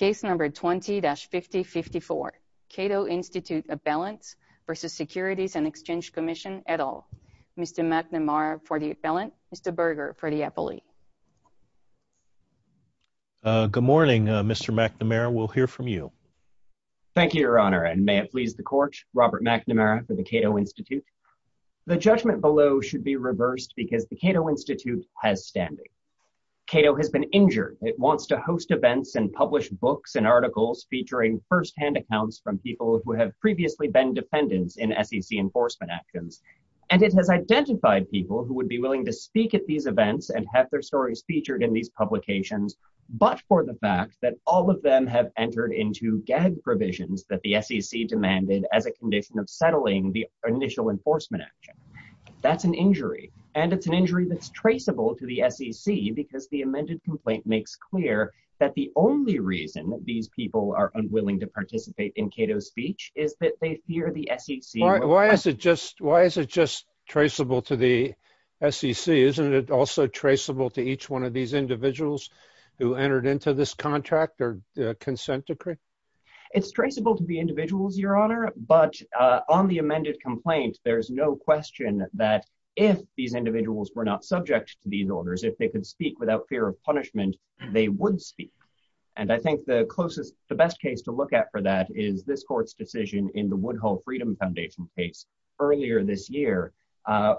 20-5054, Cato Institute of Balance v. Securities and Exchange Commission, et al. Mr. McNamara for the balance, Mr. Berger for the appellee. Good morning, Mr. McNamara. We'll hear from you. Thank you, Your Honor, and may it please the Court, Robert McNamara for the Cato Institute. The judgment below should be reversed because the Cato Institute has standing. Cato has been injured. It wants to host events and publish books and articles featuring firsthand accounts from people who have previously been defendants in SEC enforcement actions. And it has identified people who would be willing to speak at these events and have their stories featured in these publications, but for the fact that all of them have entered into gag provisions that the SEC demanded as a condition of settling the initial enforcement action. That's an injury, and it's an injury that's traceable to the SEC because the amended complaint makes clear that the only reason that these people are unwilling to participate in Cato's speech is that they fear the SEC. Why is it just traceable to the SEC? Isn't it also traceable to each one of these individuals who entered into this contract or consent decree? It's traceable to the individuals, Your Honor, but on the amended complaint, there is no question that if these individuals were not subject to these orders, if they could speak without fear of punishment, they would speak. And I think the closest, the best case to look at for that is this court's decision in the Woodhull Freedom Foundation case earlier this year,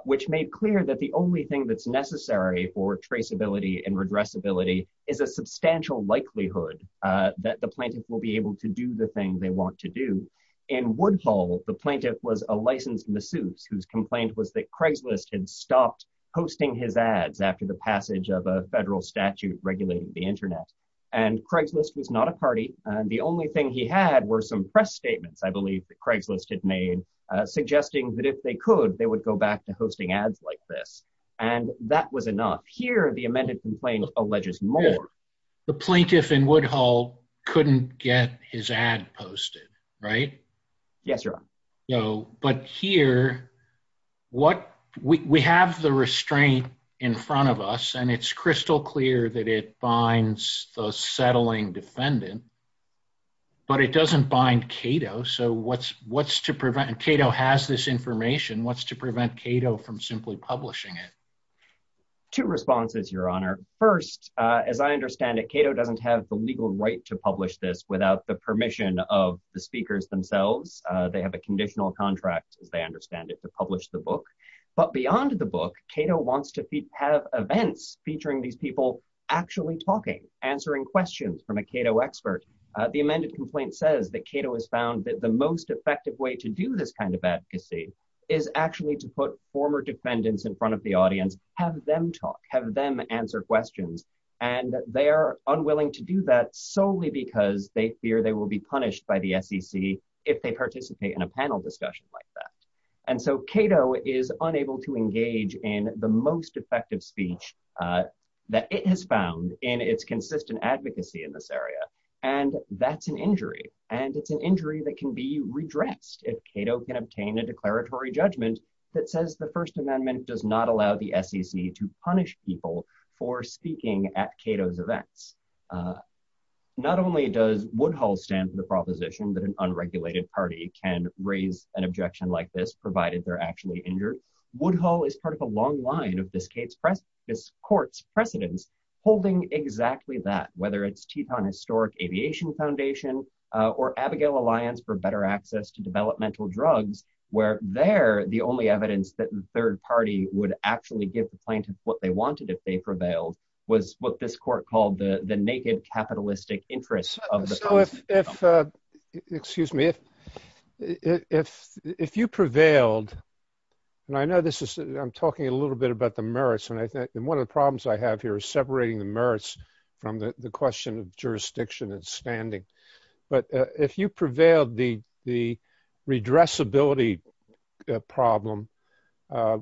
which made clear that the only thing that's necessary for traceability and redressability is a substantial likelihood that the plaintiff will be able to do the thing they want to do. In Woodhull, the plaintiff was a licensed masseuse whose complaint was that Craigslist had stopped posting his ads after the passage of a federal statute regulating the Internet. And Craigslist was not a party. The only thing he had were some press statements, I believe, that Craigslist had made suggesting that if they could, they would go back to hosting ads like this. And that was enough. Here, the amended complaint alleges more. The plaintiff in Woodhull couldn't get his ad posted, right? Yes, Your Honor. But here, we have the restraint in front of us, and it's crystal clear that it binds the settling defendant, but it doesn't bind Cato. So what's to prevent, and Cato has this information, what's to prevent Cato from simply publishing it? Two responses, Your Honor. First, as I understand it, Cato doesn't have the legal right to publish this without the permission of the speakers themselves. They have a conditional contract, as they understand it, to publish the book. But beyond the book, Cato wants to have events featuring these people actually talking, answering questions from a Cato expert. The amended complaint says that Cato has found that the most effective way to do this kind of advocacy is actually to put former defendants in front of the audience, have them talk, have them answer questions. And they are unwilling to do that solely because they fear they will be punished by the SEC if they participate in a panel discussion like that. And so Cato is unable to engage in the most effective speech that it has found in its consistent advocacy in this area, and that's an injury. And it's an injury that can be redressed if Cato can obtain a declaratory judgment that says the First Amendment does not allow the SEC to punish people for speaking at Cato's events. Not only does Woodhull stand for the proposition that an unregulated party can raise an objection like this, provided they're actually injured, Woodhull is part of a long line of this court's precedents holding exactly that, whether it's Teton Historic Aviation Foundation or Abigail Alliance for Better Access to Developmental Drugs, where there, the only evidence that the third party would actually give the plaintiffs what they wanted if they prevailed was what this court called the naked capitalistic interest of the Constitution. Excuse me. If you prevailed, and I know this is, I'm talking a little bit about the merits, and one of the problems I have here is separating the merits from the question of jurisdiction and standing. But if you prevailed, the redressability problem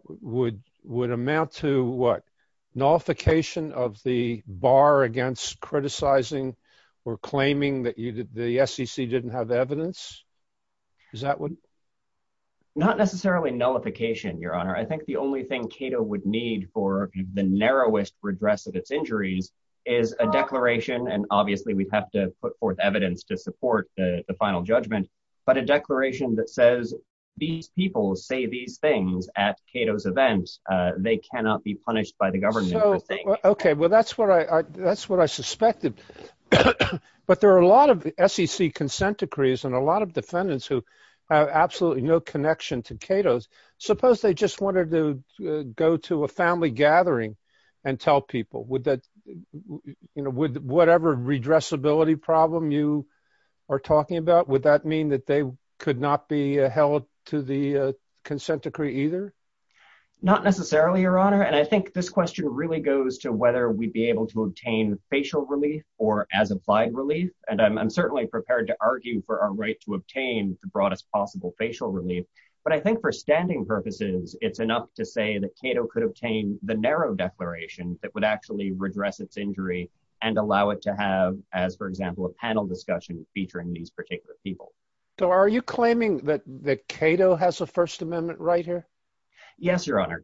would amount to what? Nullification of the bar against criticizing or claiming that the SEC didn't have evidence? Is that what? Not necessarily nullification, Your Honor. I think the only thing Cato would need for the narrowest redress of its injuries is a declaration, and obviously we'd have to put forth evidence to support the final judgment, but a declaration that says these people say these things at Cato's events. They cannot be punished by the government. Okay, well, that's what I suspected. But there are a lot of SEC consent decrees and a lot of defendants who have absolutely no connection to Cato's. Suppose they just wanted to go to a family gathering and tell people, would that, you know, whatever redressability problem you are talking about, would that mean that they could not be held to the consent decree either? Not necessarily, Your Honor. And I think this question really goes to whether we'd be able to obtain facial relief or as applied relief. And I'm certainly prepared to argue for our right to obtain the broadest possible facial relief. But I think for standing purposes, it's enough to say that Cato could obtain the narrow declaration that would actually redress its injury and allow it to have, as for example, a panel discussion featuring these particular people. So are you claiming that Cato has a First Amendment right here? Yeah, go ahead.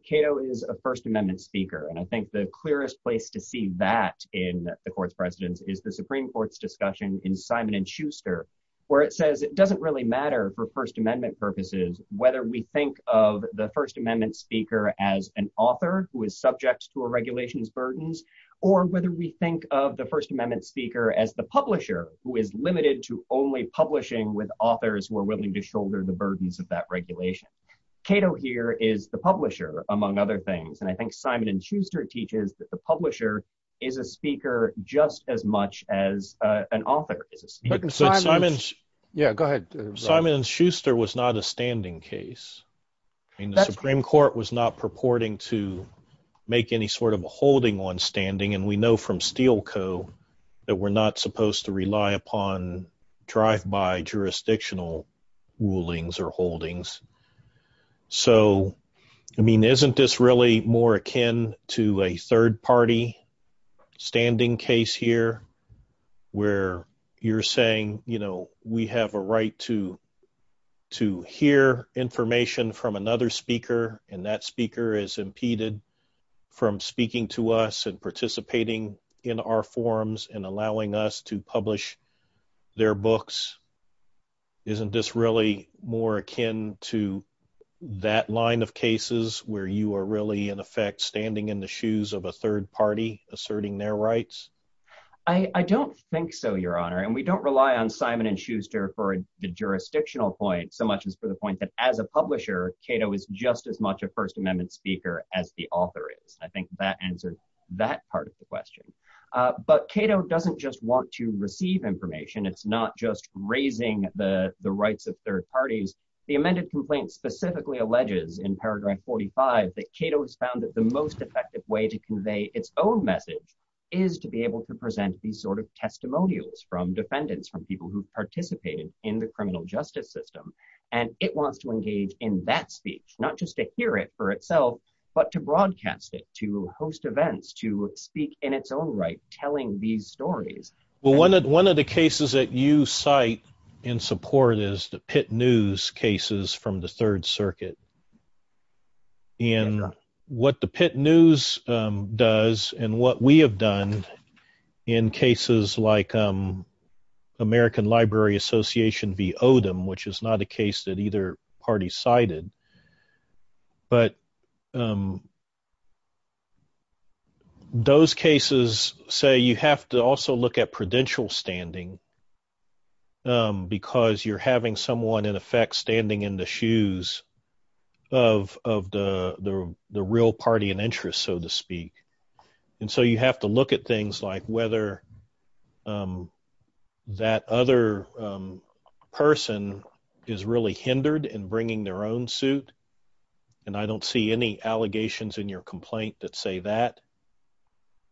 Simon & Schuster was not a standing case. I mean, the Supreme Court was not purporting to make any sort of a holding on standing. And we know from Steel Co. that we're not supposed to rely upon drive-by jurisdictional rulings or holdings. So, I mean, isn't this really more akin to a third-party standing case here where you're saying, you know, we have a right to hear information from another speaker and that speaker is impeded from speaking to us and participating in our forums and allowing us to publish their books? Isn't this really more akin to that line of cases where you are really, in effect, standing in the shoes of a third party asserting their rights? I don't think so, Your Honor. And we don't rely on Simon & Schuster for the jurisdictional point so much as for the point that as a publisher, Cato is just as much a First Amendment speaker as the author is. I think that answers that part of the question. But Cato doesn't just want to receive information. It's not just raising the rights of third parties. The amended complaint specifically alleges in paragraph 45 that Cato has found that the most effective way to convey its own message is to be able to present these sort of testimonials from defendants, from people who participated in the criminal justice system. And it wants to engage in that speech, not just to hear it for itself, but to broadcast it, to host events, to speak in its own right, telling these stories. Well, one of the cases that you cite in support is the Pitt News cases from the Third Circuit. And what the Pitt News does and what we have done in cases like American Library Association v. Odom, which is not a case that either party cited, but those cases say you have to also look at prudential standing because you're having someone, in effect, standing in the shoes of the real party in interest, so to speak. And so you have to look at things like whether that other person is really hindered in bringing their own suit. And I don't see any allegations in your complaint that say that.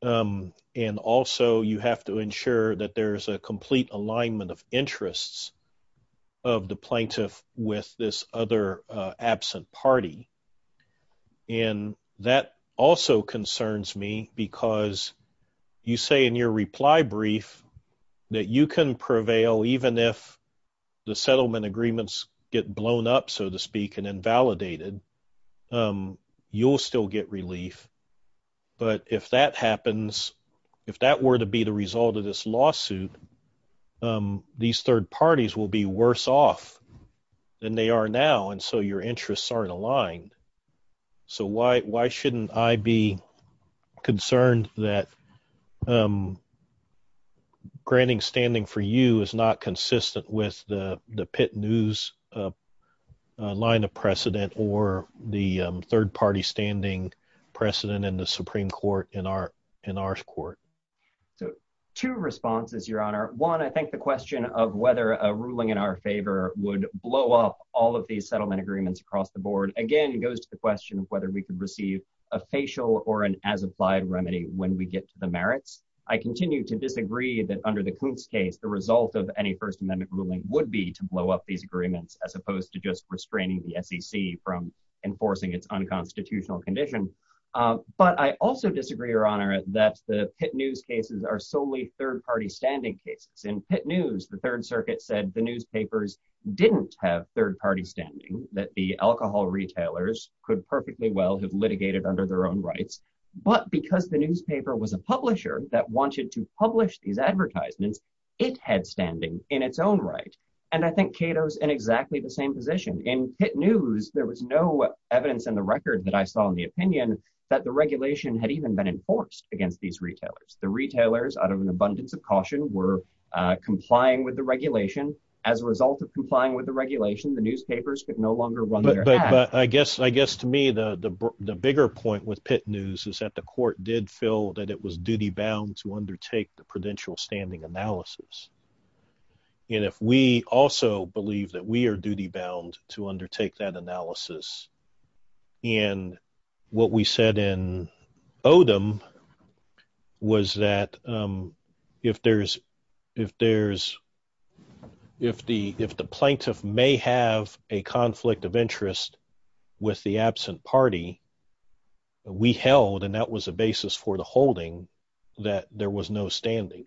And also, you have to ensure that there's a complete alignment of interests of the plaintiff with this other absent party. And that also concerns me because you say in your reply brief that you can prevail even if the settlement agreements get blown up, so to speak, and invalidated. You'll still get relief. But if that happens, if that were to be the result of this lawsuit, these third parties will be worse off than they are now, and so your interests aren't aligned. So why shouldn't I be concerned that granting standing for you is not consistent with the Pitt News line of precedent or the third party standing precedent in the Supreme Court in our court? So two responses, Your Honor. One, I think the question of whether a ruling in our favor would blow up all of these settlement agreements across the board, again, goes to the question of whether we could receive a facial or an as-applied remedy when we get to the merits. I continue to disagree that under the Kuntz case, the result of any First Amendment ruling would be to blow up these agreements as opposed to just restraining the SEC from enforcing its unconstitutional condition. But I also disagree, Your Honor, that the Pitt News cases are solely third party standing cases. In Pitt News, the Third Circuit said the newspapers didn't have third party standing, that the alcohol retailers could perfectly well have litigated under their own rights. But because the newspaper was a publisher that wanted to publish these advertisements, it had standing in its own right, and I think Cato's in exactly the same position. In Pitt News, there was no evidence in the record that I saw in the opinion that the regulation had even been enforced against these retailers. The retailers, out of an abundance of caution, were complying with the regulation. As a result of complying with the regulation, the newspapers could no longer run their ads. But I guess to me, the bigger point with Pitt News is that the court did feel that it was duty bound to undertake the prudential standing analysis. And if we also believe that we are duty bound to undertake that analysis, and what we said in Odom was that if the plaintiff may have a conflict of interest with the absent party, we held, and that was the basis for the holding, that there was no standing.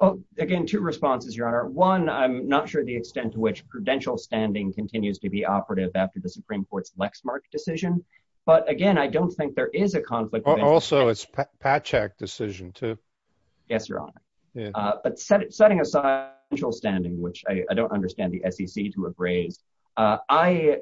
Well, again, two responses, Your Honor. One, I'm not sure the extent to which prudential standing continues to be operative after the Supreme Court's Lexmark decision. But again, I don't think there is a conflict. Also, it's Patchak decision, too. Yes, Your Honor. But setting aside prudential standing, which I don't understand the SEC to have raised, I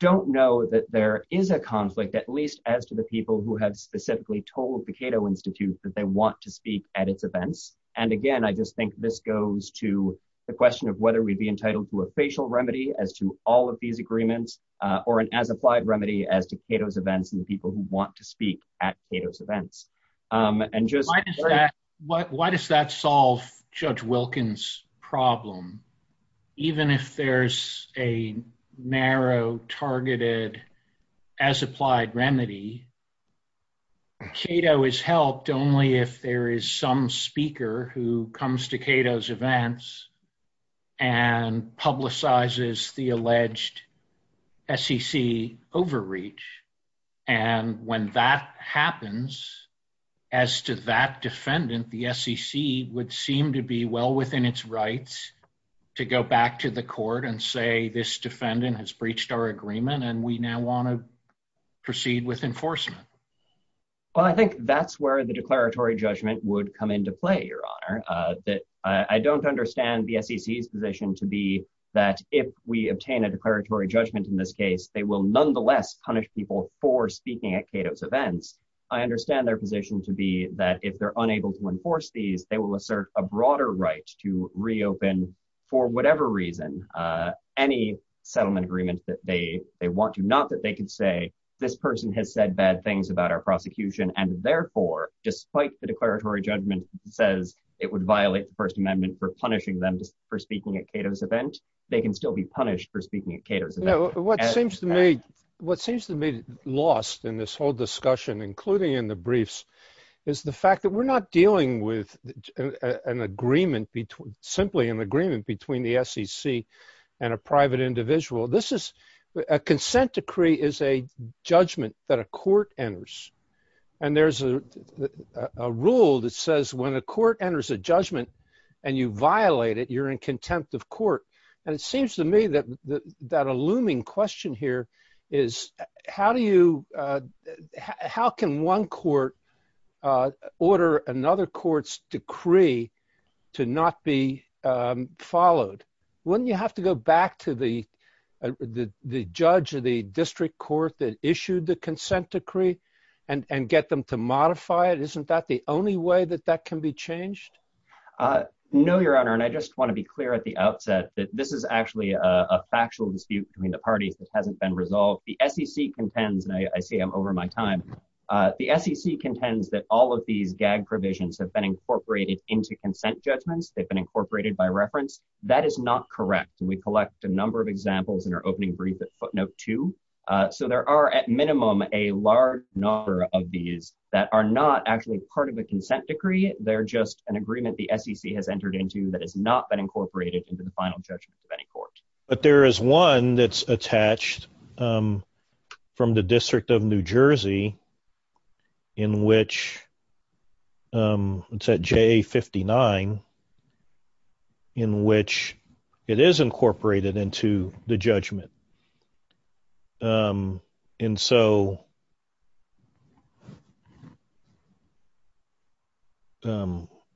don't know that there is a conflict, at least as to the people who have specifically told the Cato Institute that they want to speak at its events. And again, I just think this goes to the question of whether we'd be entitled to a facial remedy as to all of these agreements, or an as-applied remedy as to Cato's events and the people who want to speak at Cato's events. Why does that solve Judge Wilkins' problem? Even if there's a narrow targeted as-applied remedy, Cato is helped only if there is some speaker who comes to Cato's events and publicizes the alleged SEC overreach. And when that happens, as to that defendant, the SEC would seem to be well within its rights to go back to the court and say, this defendant has breached our agreement and we now want to proceed with enforcement. Well, I think that's where the declaratory judgment would come into play, Your Honor. I don't understand the SEC's position to be that if we obtain a declaratory judgment in this case, they will nonetheless punish people for speaking at Cato's events. I understand their position to be that if they're unable to enforce these, they will assert a broader right to reopen for whatever reason, any settlement agreement that they want to, not that they can say, this person has said bad things about our prosecution. And therefore, despite the declaratory judgment says it would violate the First Amendment for punishing them for speaking at Cato's event, they can still be punished for speaking at Cato's event. What seems to me lost in this whole discussion, including in the briefs, is the fact that we're not dealing with simply an agreement between the SEC and a private individual. A consent decree is a judgment that a court enters. And there's a rule that says when a court enters a judgment and you violate it, you're in contempt of court. And it seems to me that that a looming question here is, how can one court order another court's decree to not be followed? Wouldn't you have to go back to the judge or the district court that issued the consent decree and get them to modify it? Isn't that the only way that that can be changed? No, Your Honor. And I just want to be clear at the outset that this is actually a factual dispute between the parties that hasn't been resolved. The SEC contends, and I see I'm over my time. The SEC contends that all of these gag provisions have been incorporated into consent judgments. They've been incorporated by reference. That is not correct. And we collect a number of examples in our opening brief at footnote two. So there are at minimum a large number of these that are not actually part of a consent decree. They're just an agreement the SEC has entered into that has not been incorporated into the final judgment of any court. But there is one that's attached from the District of New Jersey in which, it's at J59, in which it is incorporated into the judgment. And so,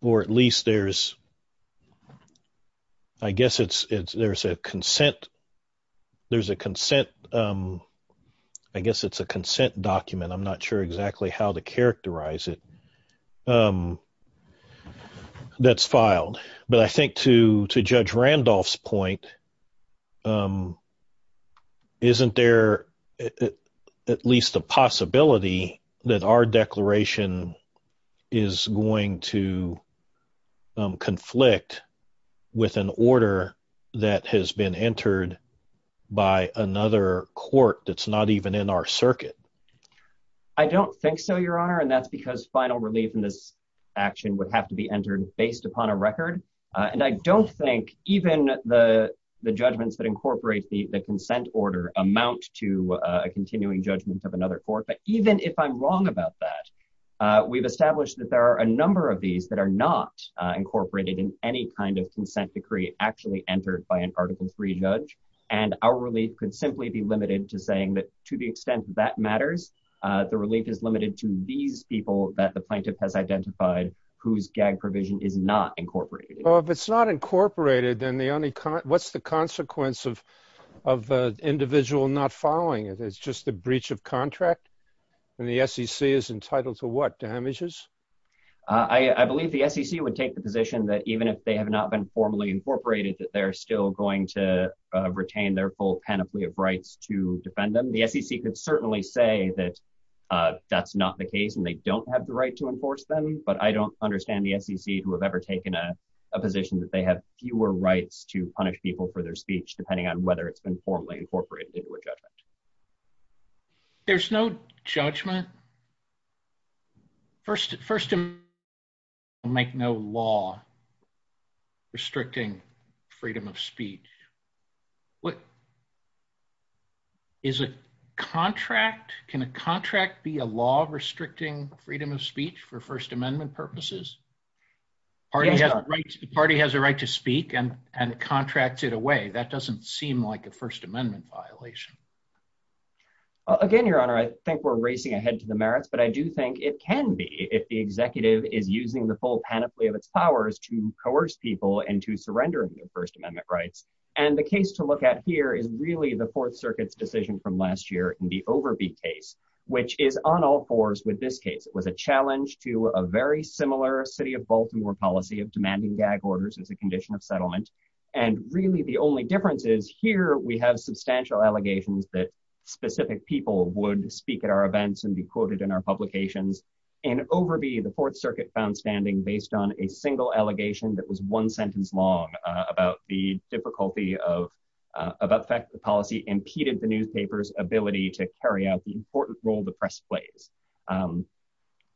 or at least there's, I guess it's, there's a consent, there's a consent, I guess it's a consent document, I'm not sure exactly how to characterize it, that's filed. But I think to Judge Randolph's point, isn't there at least a possibility that our declaration is going to conflict with an order that has been entered by another court that's not even in our circuit? I don't think so, Your Honor. And that's because final relief in this action would have to be entered based upon a record. And I don't think even the judgments that incorporate the consent order amount to a continuing judgment of another court. But even if I'm wrong about that, we've established that there are a number of these that are not incorporated in any kind of consent decree actually entered by an Article III judge. And our relief could simply be limited to saying that to the extent that matters, the relief is limited to these people that the plaintiff has identified whose gag provision is not incorporated. Well, if it's not incorporated, then what's the consequence of the individual not following it? It's just a breach of contract? And the SEC is entitled to what, damages? I believe the SEC would take the position that even if they have not been formally incorporated, that they're still going to retain their full panoply of rights to defend them. The SEC could certainly say that that's not the case and they don't have the right to enforce them. But I don't understand the SEC to have ever taken a position that they have fewer rights to punish people for their speech, depending on whether it's been formally incorporated into a judgment. There's no judgment? First Amendment doesn't make no law restricting freedom of speech. What? Is it contract? Can a contract be a law restricting freedom of speech for First Amendment purposes? The party has a right to speak and contracts it away. That doesn't seem like a First Amendment violation. Again, Your Honor, I think we're racing ahead to the merits, but I do think it can be if the executive is using the full panoply of its powers to coerce people into surrendering their First Amendment rights. And the case to look at here is really the Fourth Circuit's decision from last year in the Overby case, which is on all fours with this case. It was a challenge to a very similar city of Baltimore policy of demanding gag orders as a condition of settlement. And really, the only difference is here we have substantial allegations that specific people would speak at our events and be quoted in our publications. In Overby, the Fourth Circuit found standing based on a single allegation that was one sentence long about the difficulty of the policy impeded the newspaper's ability to carry out the important role the press plays.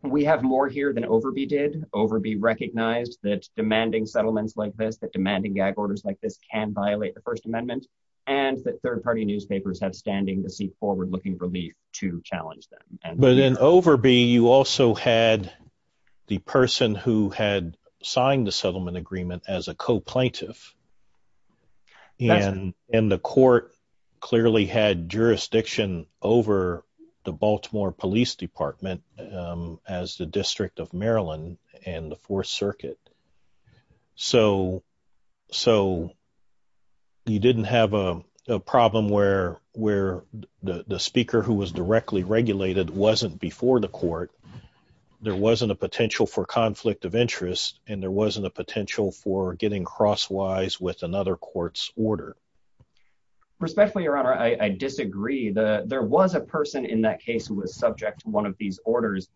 We have more here than Overby did. Overby recognized that demanding settlements like this, that demanding gag orders like this can violate the First Amendment, and that third party newspapers have standing to seek forward-looking relief to challenge them. But in Overby, you also had the person who had signed the settlement agreement as a co-plaintiff, and the court clearly had jurisdiction over the Baltimore Police Department as the District of Maryland and the Fourth Circuit. So you didn't have a problem where the speaker who was directly regulated wasn't before the court, there wasn't a potential for conflict of interest, and there wasn't a potential for getting crosswise with another court's order. Respectfully, Your Honor, I disagree. There was a person in that case who was subject to one of these orders,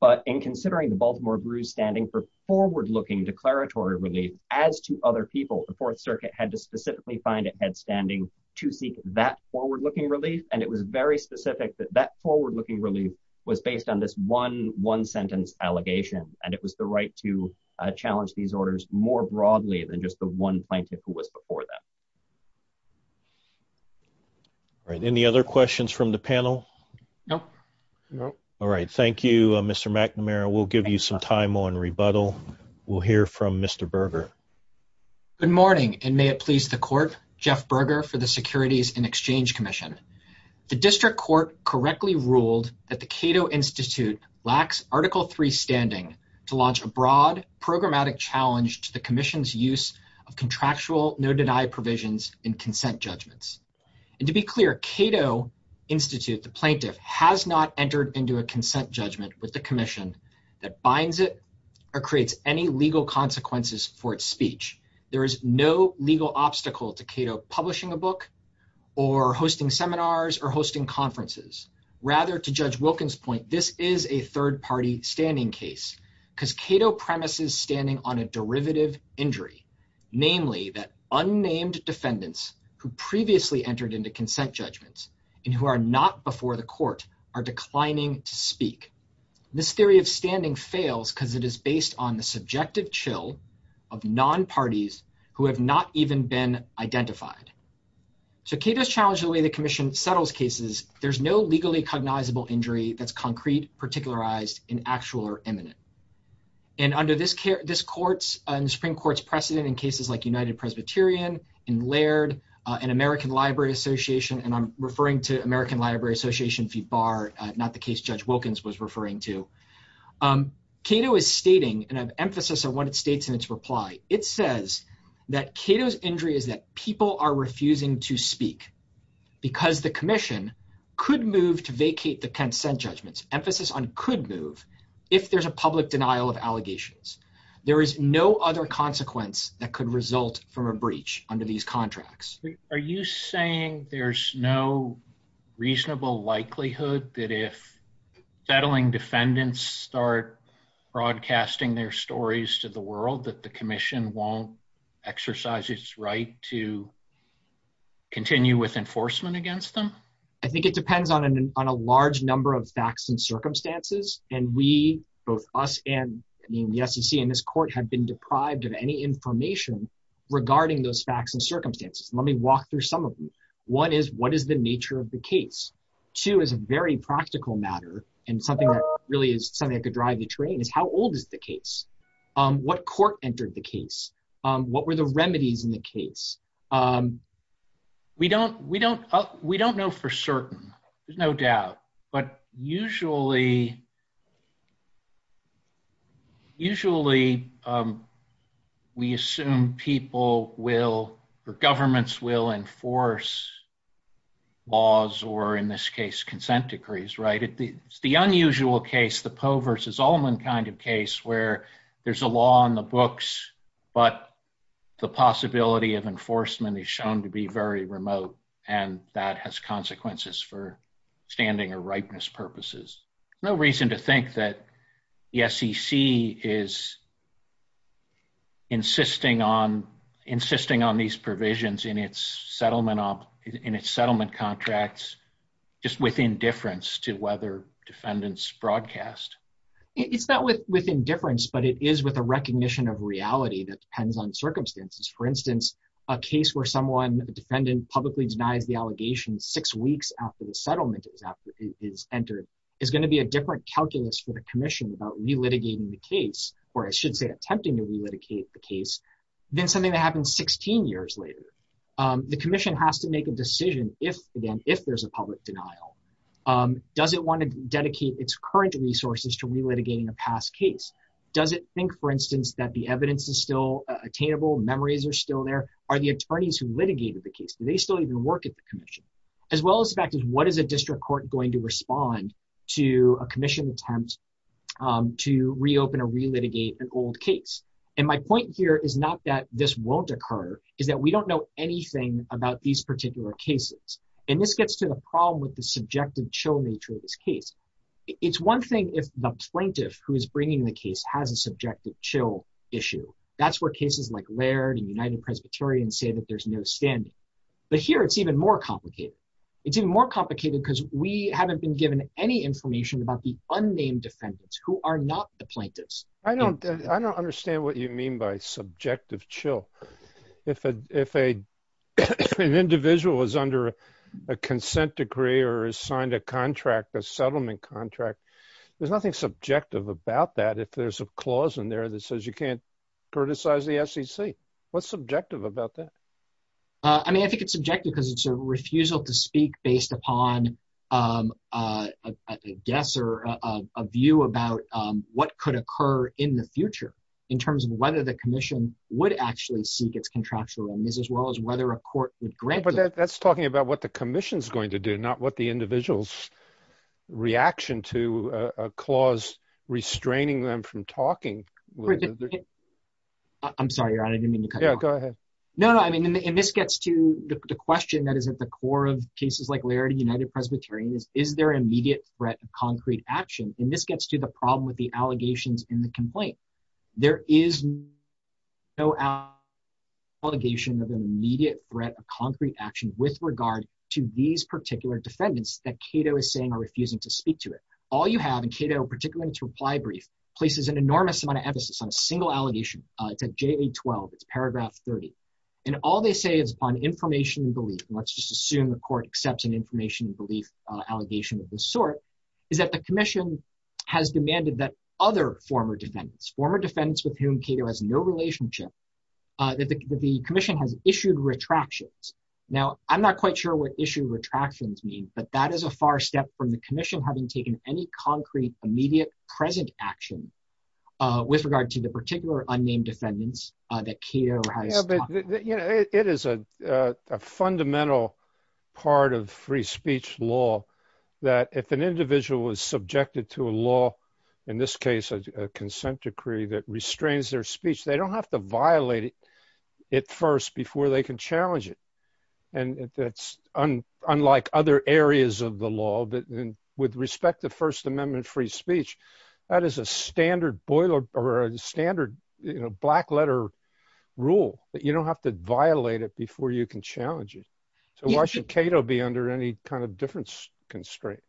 but in considering the Baltimore Brews standing for forward-looking declaratory relief, as to other people, the Fourth Circuit had to specifically find a head standing to seek that forward-looking relief, and it was very specific that that forward-looking relief was based on this one-sentence allegation, and it was the right to challenge these orders more broadly than just the one plaintiff who was before them. All right, any other questions from the panel? No. No. All right, thank you, Mr. McNamara. We'll give you some time on rebuttal. We'll hear from Mr. Berger. Good morning, and may it please the Court, Jeff Berger for the Securities and Exchange Commission. The District Court correctly ruled that the Cato Institute lacks Article III standing to launch a broad programmatic challenge to the Commission's use of contractual no-deny provisions in consent judgments. And to be clear, Cato Institute, the plaintiff, has not entered into a consent judgment with the Commission that binds it or creates any legal consequences for its speech. There is no legal obstacle to Cato publishing a book or hosting seminars or hosting conferences. Rather, to Judge Wilkins' point, this is a third-party standing case because Cato premises standing on a derivative injury, namely that unnamed defendants who previously entered into consent judgments and who are not before the Court are declining to speak. This theory of standing fails because it is based on the subjective chill of non-parties who have not even been identified. So Cato's challenge to the way the Commission settles cases, there's no legally cognizable injury that's concrete, particularized, inactual, or imminent. And under this Court's and the Supreme Court's precedent in cases like United Presbyterian, in Laird, and American Library Association, and I'm referring to American Library Association v. Barr, not the case Judge Wilkins was referring to, Cato is stating, and I have emphasis on what it states in its reply, it says that Cato's injury is that people are refusing to speak because the Commission could move to vacate the consent judgments, emphasis on could move, if there's a public denial of allegations. There is no other consequence that could result from a breach under these contracts. Are you saying there's no reasonable likelihood that if settling defendants start broadcasting their stories to the world that the Commission won't exercise its right to continue with enforcement against them? I think it depends on a large number of facts and circumstances, and we, both us and the SEC and this Court, have been deprived of any information regarding those facts and circumstances. Let me walk through some of them. One is, what is the nature of the case? Two is a very practical matter, and something that really is something that could drive the train, is how old is the case? What court entered the case? What were the remedies in the case? We don't know for certain. There's no doubt. But usually, we assume governments will enforce laws or, in this case, consent decrees, right? It's the unusual case, the Poe versus Ullman kind of case, where there's a law on the books, but the possibility of enforcement is shown to be very remote, and that has consequences for standing or ripeness purposes. There's no reason to think that the SEC is insisting on these provisions in its settlement contracts just with indifference to whether defendants broadcast. It's not with indifference, but it is with a recognition of reality that depends on circumstances. For instance, a case where someone, a defendant, publicly denies the allegation six weeks after the settlement is entered is going to be a different calculus for the Commission about relitigating the case, or I should say attempting to relitigate the case, than something that happens 16 years later. The Commission has to make a decision if, again, if there's a public denial. Does it want to dedicate its current resources to relitigating a past case? Does it think, for instance, that the evidence is still attainable, memories are still there? Are the attorneys who litigated the case, do they still even work at the Commission? As well as the fact is, what is a district court going to respond to a Commission attempt to reopen or relitigate an old case? And my point here is not that this won't occur, it's that we don't know anything about these particular cases. And this gets to the problem with the subjective chill nature of this case. It's one thing if the plaintiff who is bringing the case has a subjective chill issue. That's where cases like Laird and United Presbyterian say that there's no standing. But here it's even more complicated. It's even more complicated because we haven't been given any information about the unnamed defendants who are not the plaintiffs. I don't understand what you mean by subjective chill. If an individual is under a consent decree or has signed a contract, a settlement contract, there's nothing subjective about that if there's a clause in there that says you can't criticize the SEC. What's subjective about that? I mean, I think it's subjective because it's a refusal to speak based upon a guess or a view about what could occur in the future in terms of whether the Commission would actually seek its contractual remedies as well as whether a court would grant it. But that's talking about what the Commission is going to do, not what the individual's reaction to a clause restraining them from talking. I'm sorry, Your Honor, I didn't mean to cut you off. No, go ahead. No, I mean, and this gets to the question that is at the core of cases like Laird and United Presbyterian is, is there an immediate threat of concrete action? And this gets to the problem with the allegations in the complaint. There is no allegation of an immediate threat of concrete action with regard to these particular defendants that Cato is saying are refusing to speak to it. All you have in Cato, particularly in its reply brief, places an enormous amount of emphasis on a single allegation. It's at JA-12. It's paragraph 30. And all they say is upon information and belief, and let's just assume the court accepts an information and belief allegation of this sort, is that the Commission has demanded that other former defendants, former defendants with whom Cato has no relationship, that the Commission has issued retractions. Now, I'm not quite sure what issue retractions mean, but that is a far step from the Commission having taken any concrete immediate present action with regard to the particular unnamed defendants that Cato has talked about. It is a fundamental part of free speech law that if an individual was subjected to a law, in this case, a consent decree that restrains their speech, they don't have to violate it first before they can challenge it. And that's unlike other areas of the law. With respect to First Amendment free speech, that is a standard black letter rule that you don't have to violate it before you can challenge it. So why should Cato be under any kind of difference constraint?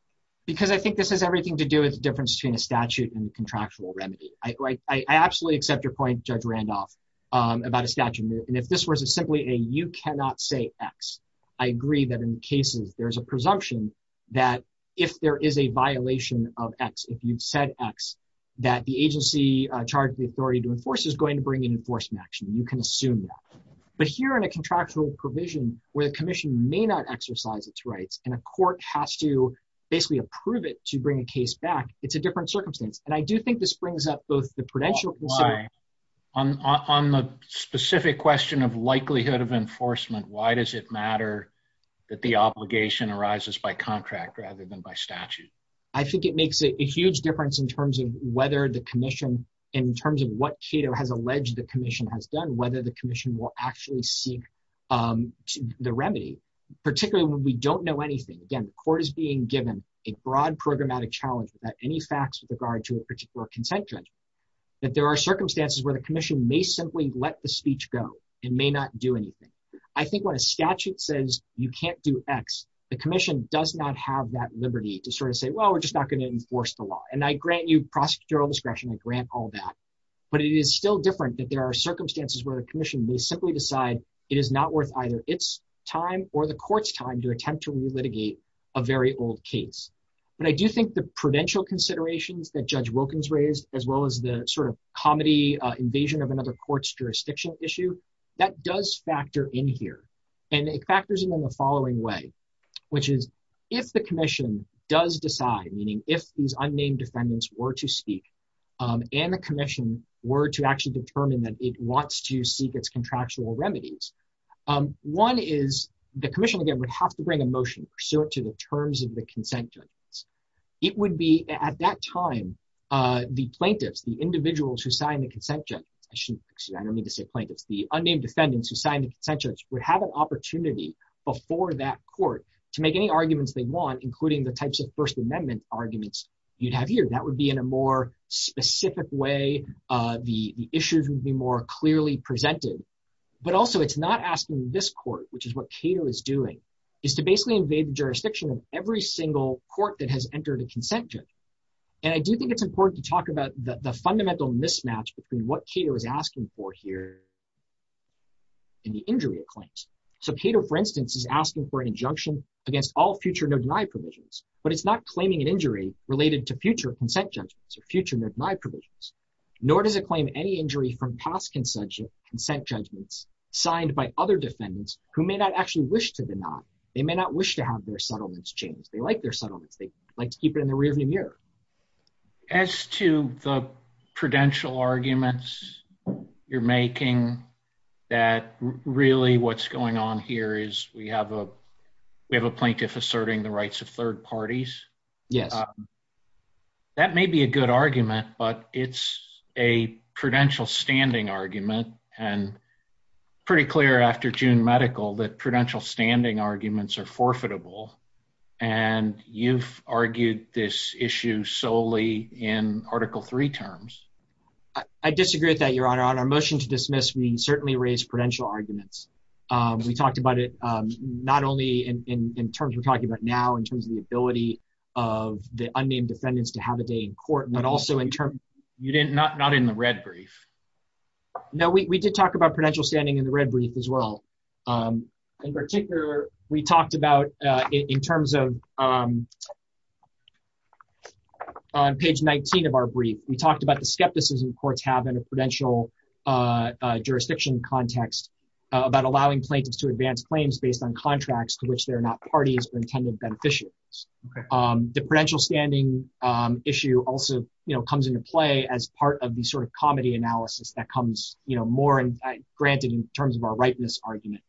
Because I think this has everything to do with the difference between a statute and contractual remedy. I absolutely accept your point, Judge Randolph, about a statute. And if this was simply a you cannot say X, I agree that in cases there's a presumption that if there is a violation of X, if you've said X, that the agency charged the authority to enforce is going to bring an enforcement action. You can assume that. But here in a contractual provision where the Commission may not exercise its rights and a court has to basically approve it to bring a case back, it's a different circumstance. And I do think this brings up both the prudential consideration. Why? On the specific question of likelihood of enforcement, why does it matter that the obligation arises by contract rather than by statute? I think it makes a huge difference in terms of whether the Commission, in terms of what Cato has alleged the Commission has done, whether the Commission will actually seek the remedy, particularly when we don't know anything. Again, the court is being given a broad programmatic challenge without any facts with regard to a particular consent judgment, that there are circumstances where the Commission may simply let the speech go and may not do anything. I think when a statute says you can't do X, the Commission does not have that liberty to sort of say, well, we're just not going to enforce the law. And I grant you prosecutorial discretion. I grant all that. But it is still different that there are circumstances where the Commission may simply decide it is not worth either its time or the court's time to attempt to re-litigate a very old case. But I do think the prudential considerations that Judge Wilkins raised, as well as the sort of comedy invasion of another court's jurisdiction issue, that does factor in here. And it factors in in the following way, which is if the Commission does decide, meaning if these unnamed defendants were to speak, and the Commission were to actually determine that it wants to seek its contractual remedies, one is the Commission, again, would have to bring a motion pursuant to the terms of the consent judgment. It would be at that time, the plaintiffs, the individuals who signed the consent judgment, excuse me, I don't mean to say plaintiffs, the unnamed defendants who signed the consent judgment would have an opportunity before that court to make any arguments they want, including the types of First Amendment arguments you'd have here. That would be in a more specific way. The issues would be more clearly presented. But also, it's not asking this court, which is what Cato is doing, is to basically invade the jurisdiction of every single court that has entered a consent judgment. And I do think it's important to talk about the fundamental mismatch between what Cato is asking for here and the injury it claims. So Cato, for instance, is asking for an injunction against all future no-deny provisions, but it's not claiming an injury related to future consent judgments or future no-deny provisions. Nor does it claim any injury from past consent judgments signed by other defendants who may not actually wish to deny. They may not wish to have their settlements changed. They like their settlements. They like to keep it in the rearview mirror. As to the prudential arguments you're making, that really what's going on here is we have a plaintiff asserting the rights of third parties. Yes. That may be a good argument, but it's a prudential standing argument. And it's pretty clear after June Medical that prudential standing arguments are forfeitable. And you've argued this issue solely in Article III terms. I disagree with that, Your Honor. On our motion to dismiss, we certainly raised prudential arguments. We talked about it not only in terms we're talking about now, in terms of the ability of the unnamed defendants to have a day in court, but also in terms— Not in the red brief. No, we did talk about prudential standing in the red brief as well. In particular, we talked about, in terms of on page 19 of our brief, we talked about the skepticism courts have in a prudential jurisdiction context about allowing plaintiffs to advance claims based on contracts to which they're not parties or intended beneficiaries. The prudential standing issue also comes into play as part of the sort of comedy analysis that comes more granted in terms of our rightness argument.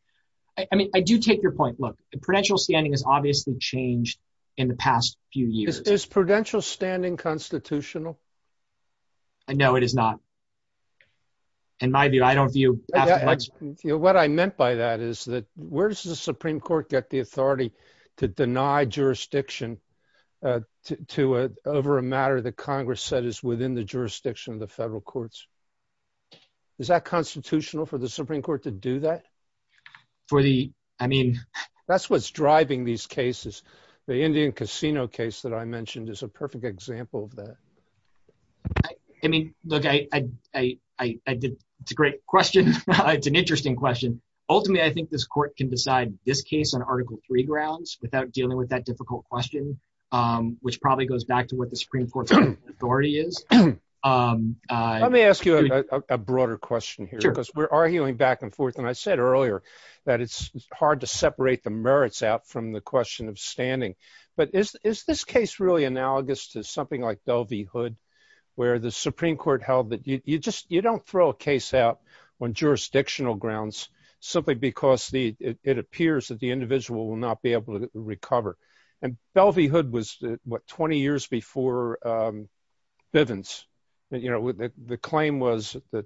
I mean, I do take your point. Look, prudential standing has obviously changed in the past few years. Is prudential standing constitutional? No, it is not. In my view, I don't view— What I meant by that is that where does the Supreme Court get the authority to deny jurisdiction over a matter that Congress said is within the jurisdiction of the federal courts? Is that constitutional for the Supreme Court to do that? For the, I mean— That's what's driving these cases. The Indian Casino case that I mentioned is a perfect example of that. I mean, look, it's a great question. It's an interesting question. Ultimately, I think this court can decide this case on Article III grounds without dealing with that difficult question, which probably goes back to what the Supreme Court's authority is. Let me ask you a broader question here because we're arguing back and forth. And I said earlier that it's hard to separate the merits out from the question of standing. But is this case really analogous to something like Belle v. Hood, where the Supreme Court held that you don't throw a case out on jurisdictional grounds simply because it appears that the individual will not be able to recover? And Belle v. Hood was, what, 20 years before Bivens. You know, the claim was that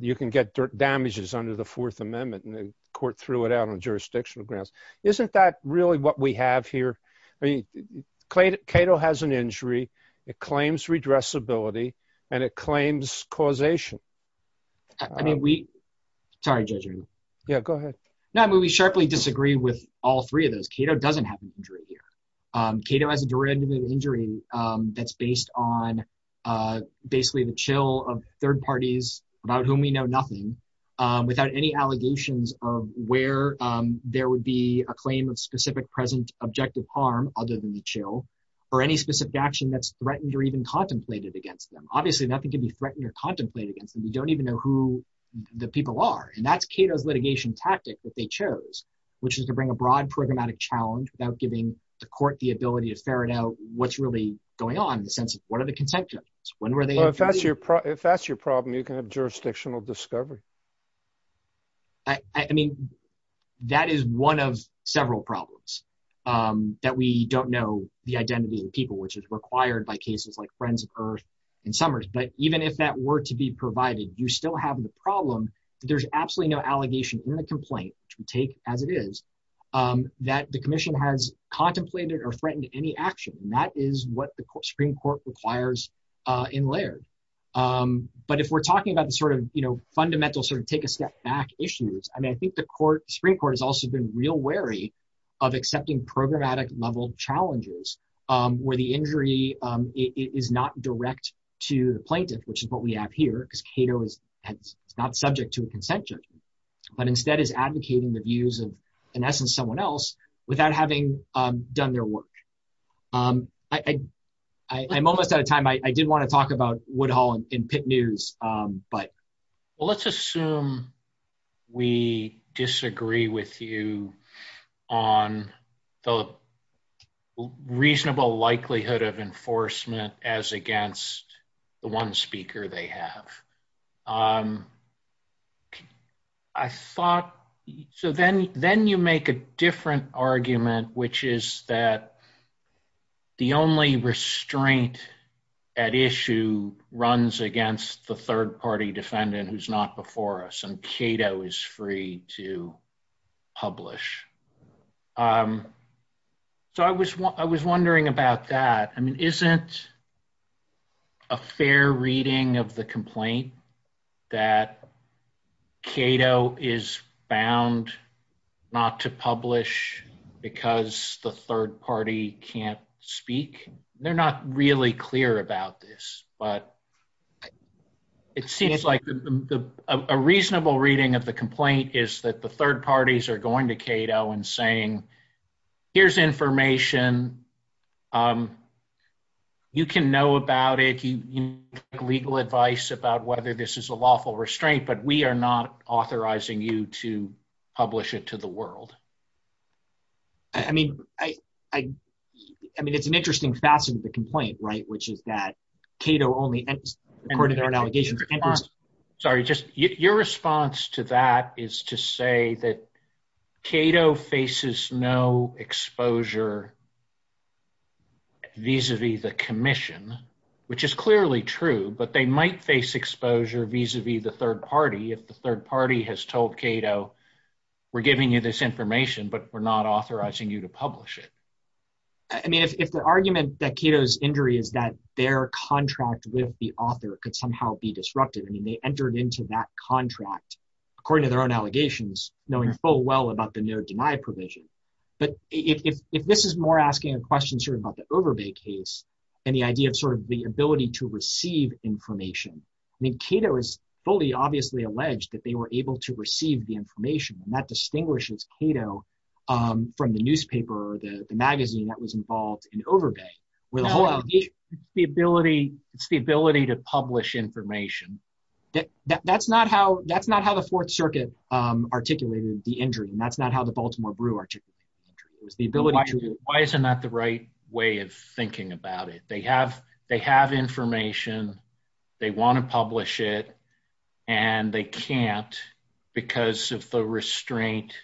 you can get damages under the Fourth Amendment, and the court threw it out on jurisdictional grounds. Isn't that really what we have here? I mean, Cato has an injury. It claims redressability, and it claims causation. I mean, we— Sorry, Judge. Yeah, go ahead. No, I mean, we sharply disagree with all three of those. Cato doesn't have an injury here. Cato has a derivative injury that's based on basically the chill of third parties about whom we know nothing, without any allegations of where there would be a claim of specific present objective harm other than the chill, or any specific action that's threatened or even contemplated against them. Obviously, nothing can be threatened or contemplated against them. We don't even know who the people are. And that's Cato's litigation tactic that they chose, which is to bring a broad programmatic challenge without giving the court the ability to ferret out what's really going on in the sense of what are the consent terms, when were they— Well, if that's your problem, you can have jurisdictional discovery. I mean, that is one of several problems, that we don't know the identity of the people, which is required by cases like Friends of Earth and Summers. But even if that were to be provided, you still have the problem that there's absolutely no allegation in the complaint, which we take as it is, that the commission has contemplated or threatened any action. And that is what the Supreme Court requires in Laird. But if we're talking about the sort of fundamental sort of take-a-step-back issues, I mean, I think the Supreme Court has also been real wary of accepting programmatic-level challenges, where the injury is not direct to the plaintiff, which is what we have here, because Cato is not subject to a consent judgment, but instead is advocating the views of, in essence, someone else, without having done their work. I'm almost out of time. I did want to talk about Woodhull and Pitt News, but— Well, let's assume we disagree with you on the reasonable likelihood of enforcement as against the one speaker they have. I thought—so then you make a different argument, which is that the only restraint at issue runs against the third-party defendant who's not before us, and Cato is free to publish. So I was wondering about that. I mean, isn't a fair reading of the complaint that Cato is bound not to publish because the third party can't speak? They're not really clear about this, but it seems like a reasonable reading of the complaint is that the third parties are going to Cato and saying, here's information, you can know about it, you can get legal advice about whether this is a lawful restraint, but we are not authorizing you to publish it to the world. I mean, it's an interesting facet of the complaint, which is that Cato only— Sorry, just—your response to that is to say that Cato faces no exposure vis-a-vis the commission, which is clearly true, but they might face exposure vis-a-vis the third party if the third party has told Cato, we're giving you this information, but we're not authorizing you to publish it. I mean, if the argument that Cato's injury is that their contract with the author could somehow be disrupted, I mean, they entered into that contract, according to their own allegations, knowing full well about the no-deny provision. But if this is more asking a question sort of about the Overbay case and the idea of sort of the ability to receive information, I mean, Cato is fully obviously alleged that they were able to receive the information, and that distinguishes Cato from the newspaper or the magazine that was involved in Overbay, where the whole allegation— That's not how the Fourth Circuit articulated the injury, and that's not how the Baltimore Brew articulated the injury. It was the ability to— Why isn't that the right way of thinking about it? They have information, they want to publish it, and they can't because of the restraint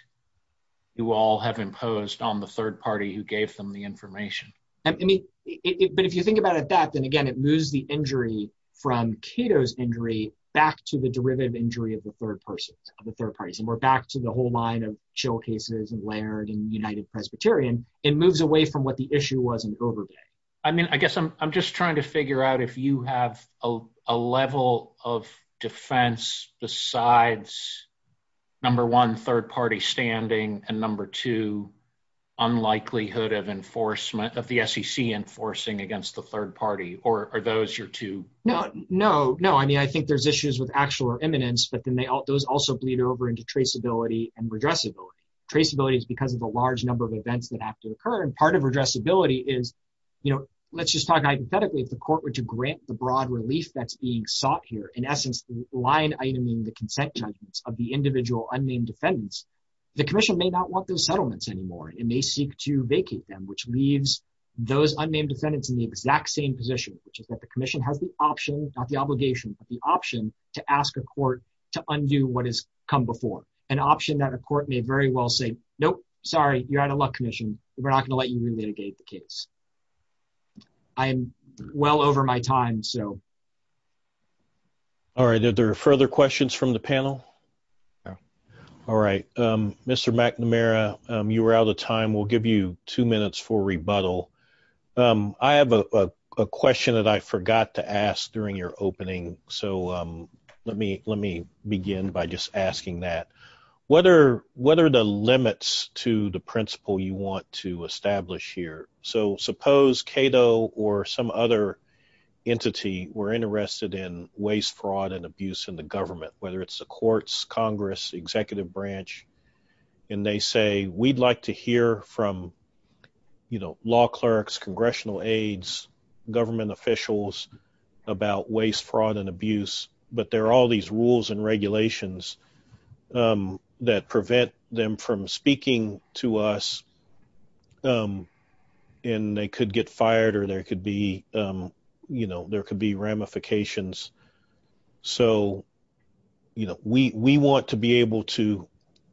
you all have imposed on the third party who gave them the information. But if you think about it that, then again, it moves the injury from Cato's injury back to the derivative injury of the third person, of the third parties, and we're back to the whole line of Schill cases and Laird and United Presbyterian. It moves away from what the issue was in Overbay. I mean, I guess I'm just trying to figure out if you have a level of defense besides, number one, third party standing, and number two, unlikelihood of the SEC enforcing against the third party, or are those your two— No, no, no. I mean, I think there's issues with actual or imminence, but then those also bleed over into traceability and redressability. Traceability is because of the large number of events that have to occur, and part of redressability is, you know, let's just talk hypothetically, if the court were to grant the broad relief that's being sought here, in essence, line-iteming the consent judgments of the individual unnamed defendants, the commission may not want those settlements anymore. It may seek to vacate them, which leaves those unnamed defendants in the exact same position, which is that the commission has the option—not the obligation, but the option—to ask a court to undo what has come before, an option that a court may very well say, nope, sorry, you're out of luck, commission. We're not going to let you relitigate the case. I am well over my time, so. All right. Are there further questions from the panel? Waste, fraud, and abuse in the government, whether it's the courts, Congress, executive branch, and they say, we'd like to hear from, you know, law clerks, congressional aides, government officials about waste, fraud, and abuse, but there are all these rules and regulations that prevent them from speaking to us. And they could get fired or there could be, you know, there could be ramifications. So, you know, we want to be able to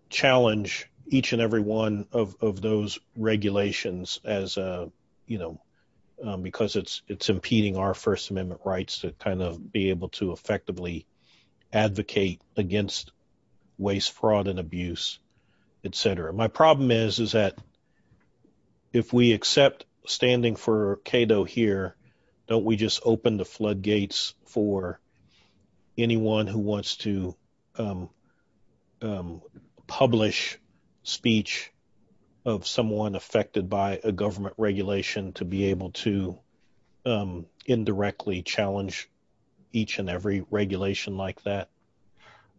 challenge each and every one of those regulations as, you know, because it's impeding our First Amendment rights to kind of be able to effectively advocate against waste, fraud, and abuse, etc. My problem is, is that if we accept standing for Cato here, don't we just open the floodgates for anyone who wants to publish speech of someone affected by a government regulation to be able to indirectly challenge each and every regulation like that?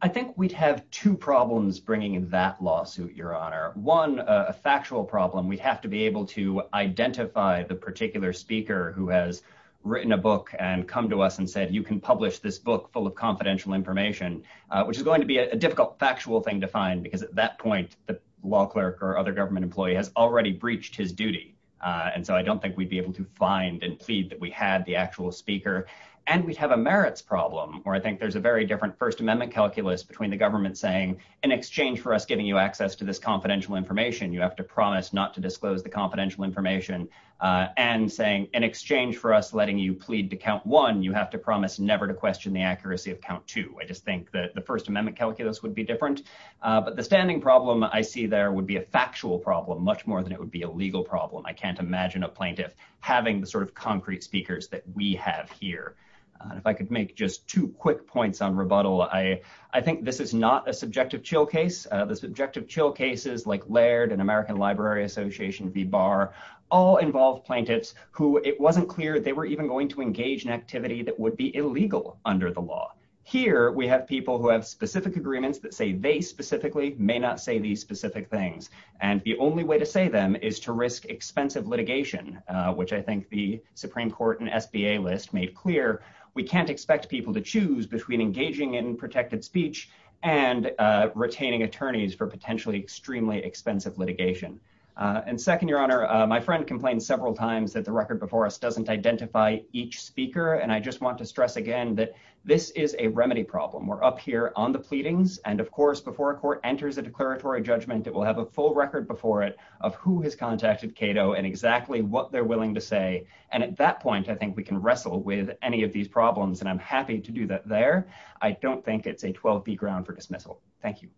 I think we'd have two problems bringing in that lawsuit, Your Honor. One, a factual problem. We'd have to be able to identify the particular speaker who has written a book and come to us and said, you can publish this book full of confidential information, which is going to be a difficult factual thing to find because at that point, the law clerk or other government employee has already breached his duty. And so I don't think we'd be able to find and plead that we had the actual speaker. And we'd have a merits problem where I think there's a very different First Amendment calculus between the government saying, in exchange for us giving you access to this confidential information, you have to promise not to disclose the confidential information and saying, in exchange for us letting you plead to count one, you have to promise never to question the accuracy of count two. I just think that the First Amendment calculus would be different. But the standing problem I see there would be a factual problem much more than it would be a legal problem. I can't imagine a plaintiff having the sort of concrete speakers that we have here. And if I could make just two quick points on rebuttal, I think this is not a subjective chill case. The subjective chill cases like Laird and American Library Association v. Barr all involve plaintiffs who it wasn't clear they were even going to engage in activity that would be illegal under the law. Here, we have people who have specific agreements that say they specifically may not say these specific things. And the only way to say them is to risk expensive litigation, which I think the Supreme Court and SBA list made clear we can't expect people to choose between engaging in protected speech and retaining attorneys for potentially extremely expensive litigation. And second, Your Honor, my friend complained several times that the record before us doesn't identify each speaker. And I just want to stress again that this is a remedy problem. We're up here on the pleadings. And of course, before a court enters a declaratory judgment, it will have a full record before it of who has contacted Cato and exactly what they're willing to say. And at that point, I think we can wrestle with any of these problems. And I'm happy to do that there. I don't think it's a 12-B ground for dismissal. Thank you.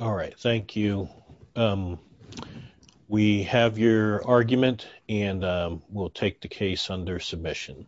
All right. Thank you. We have your argument, and we'll take the case under submission.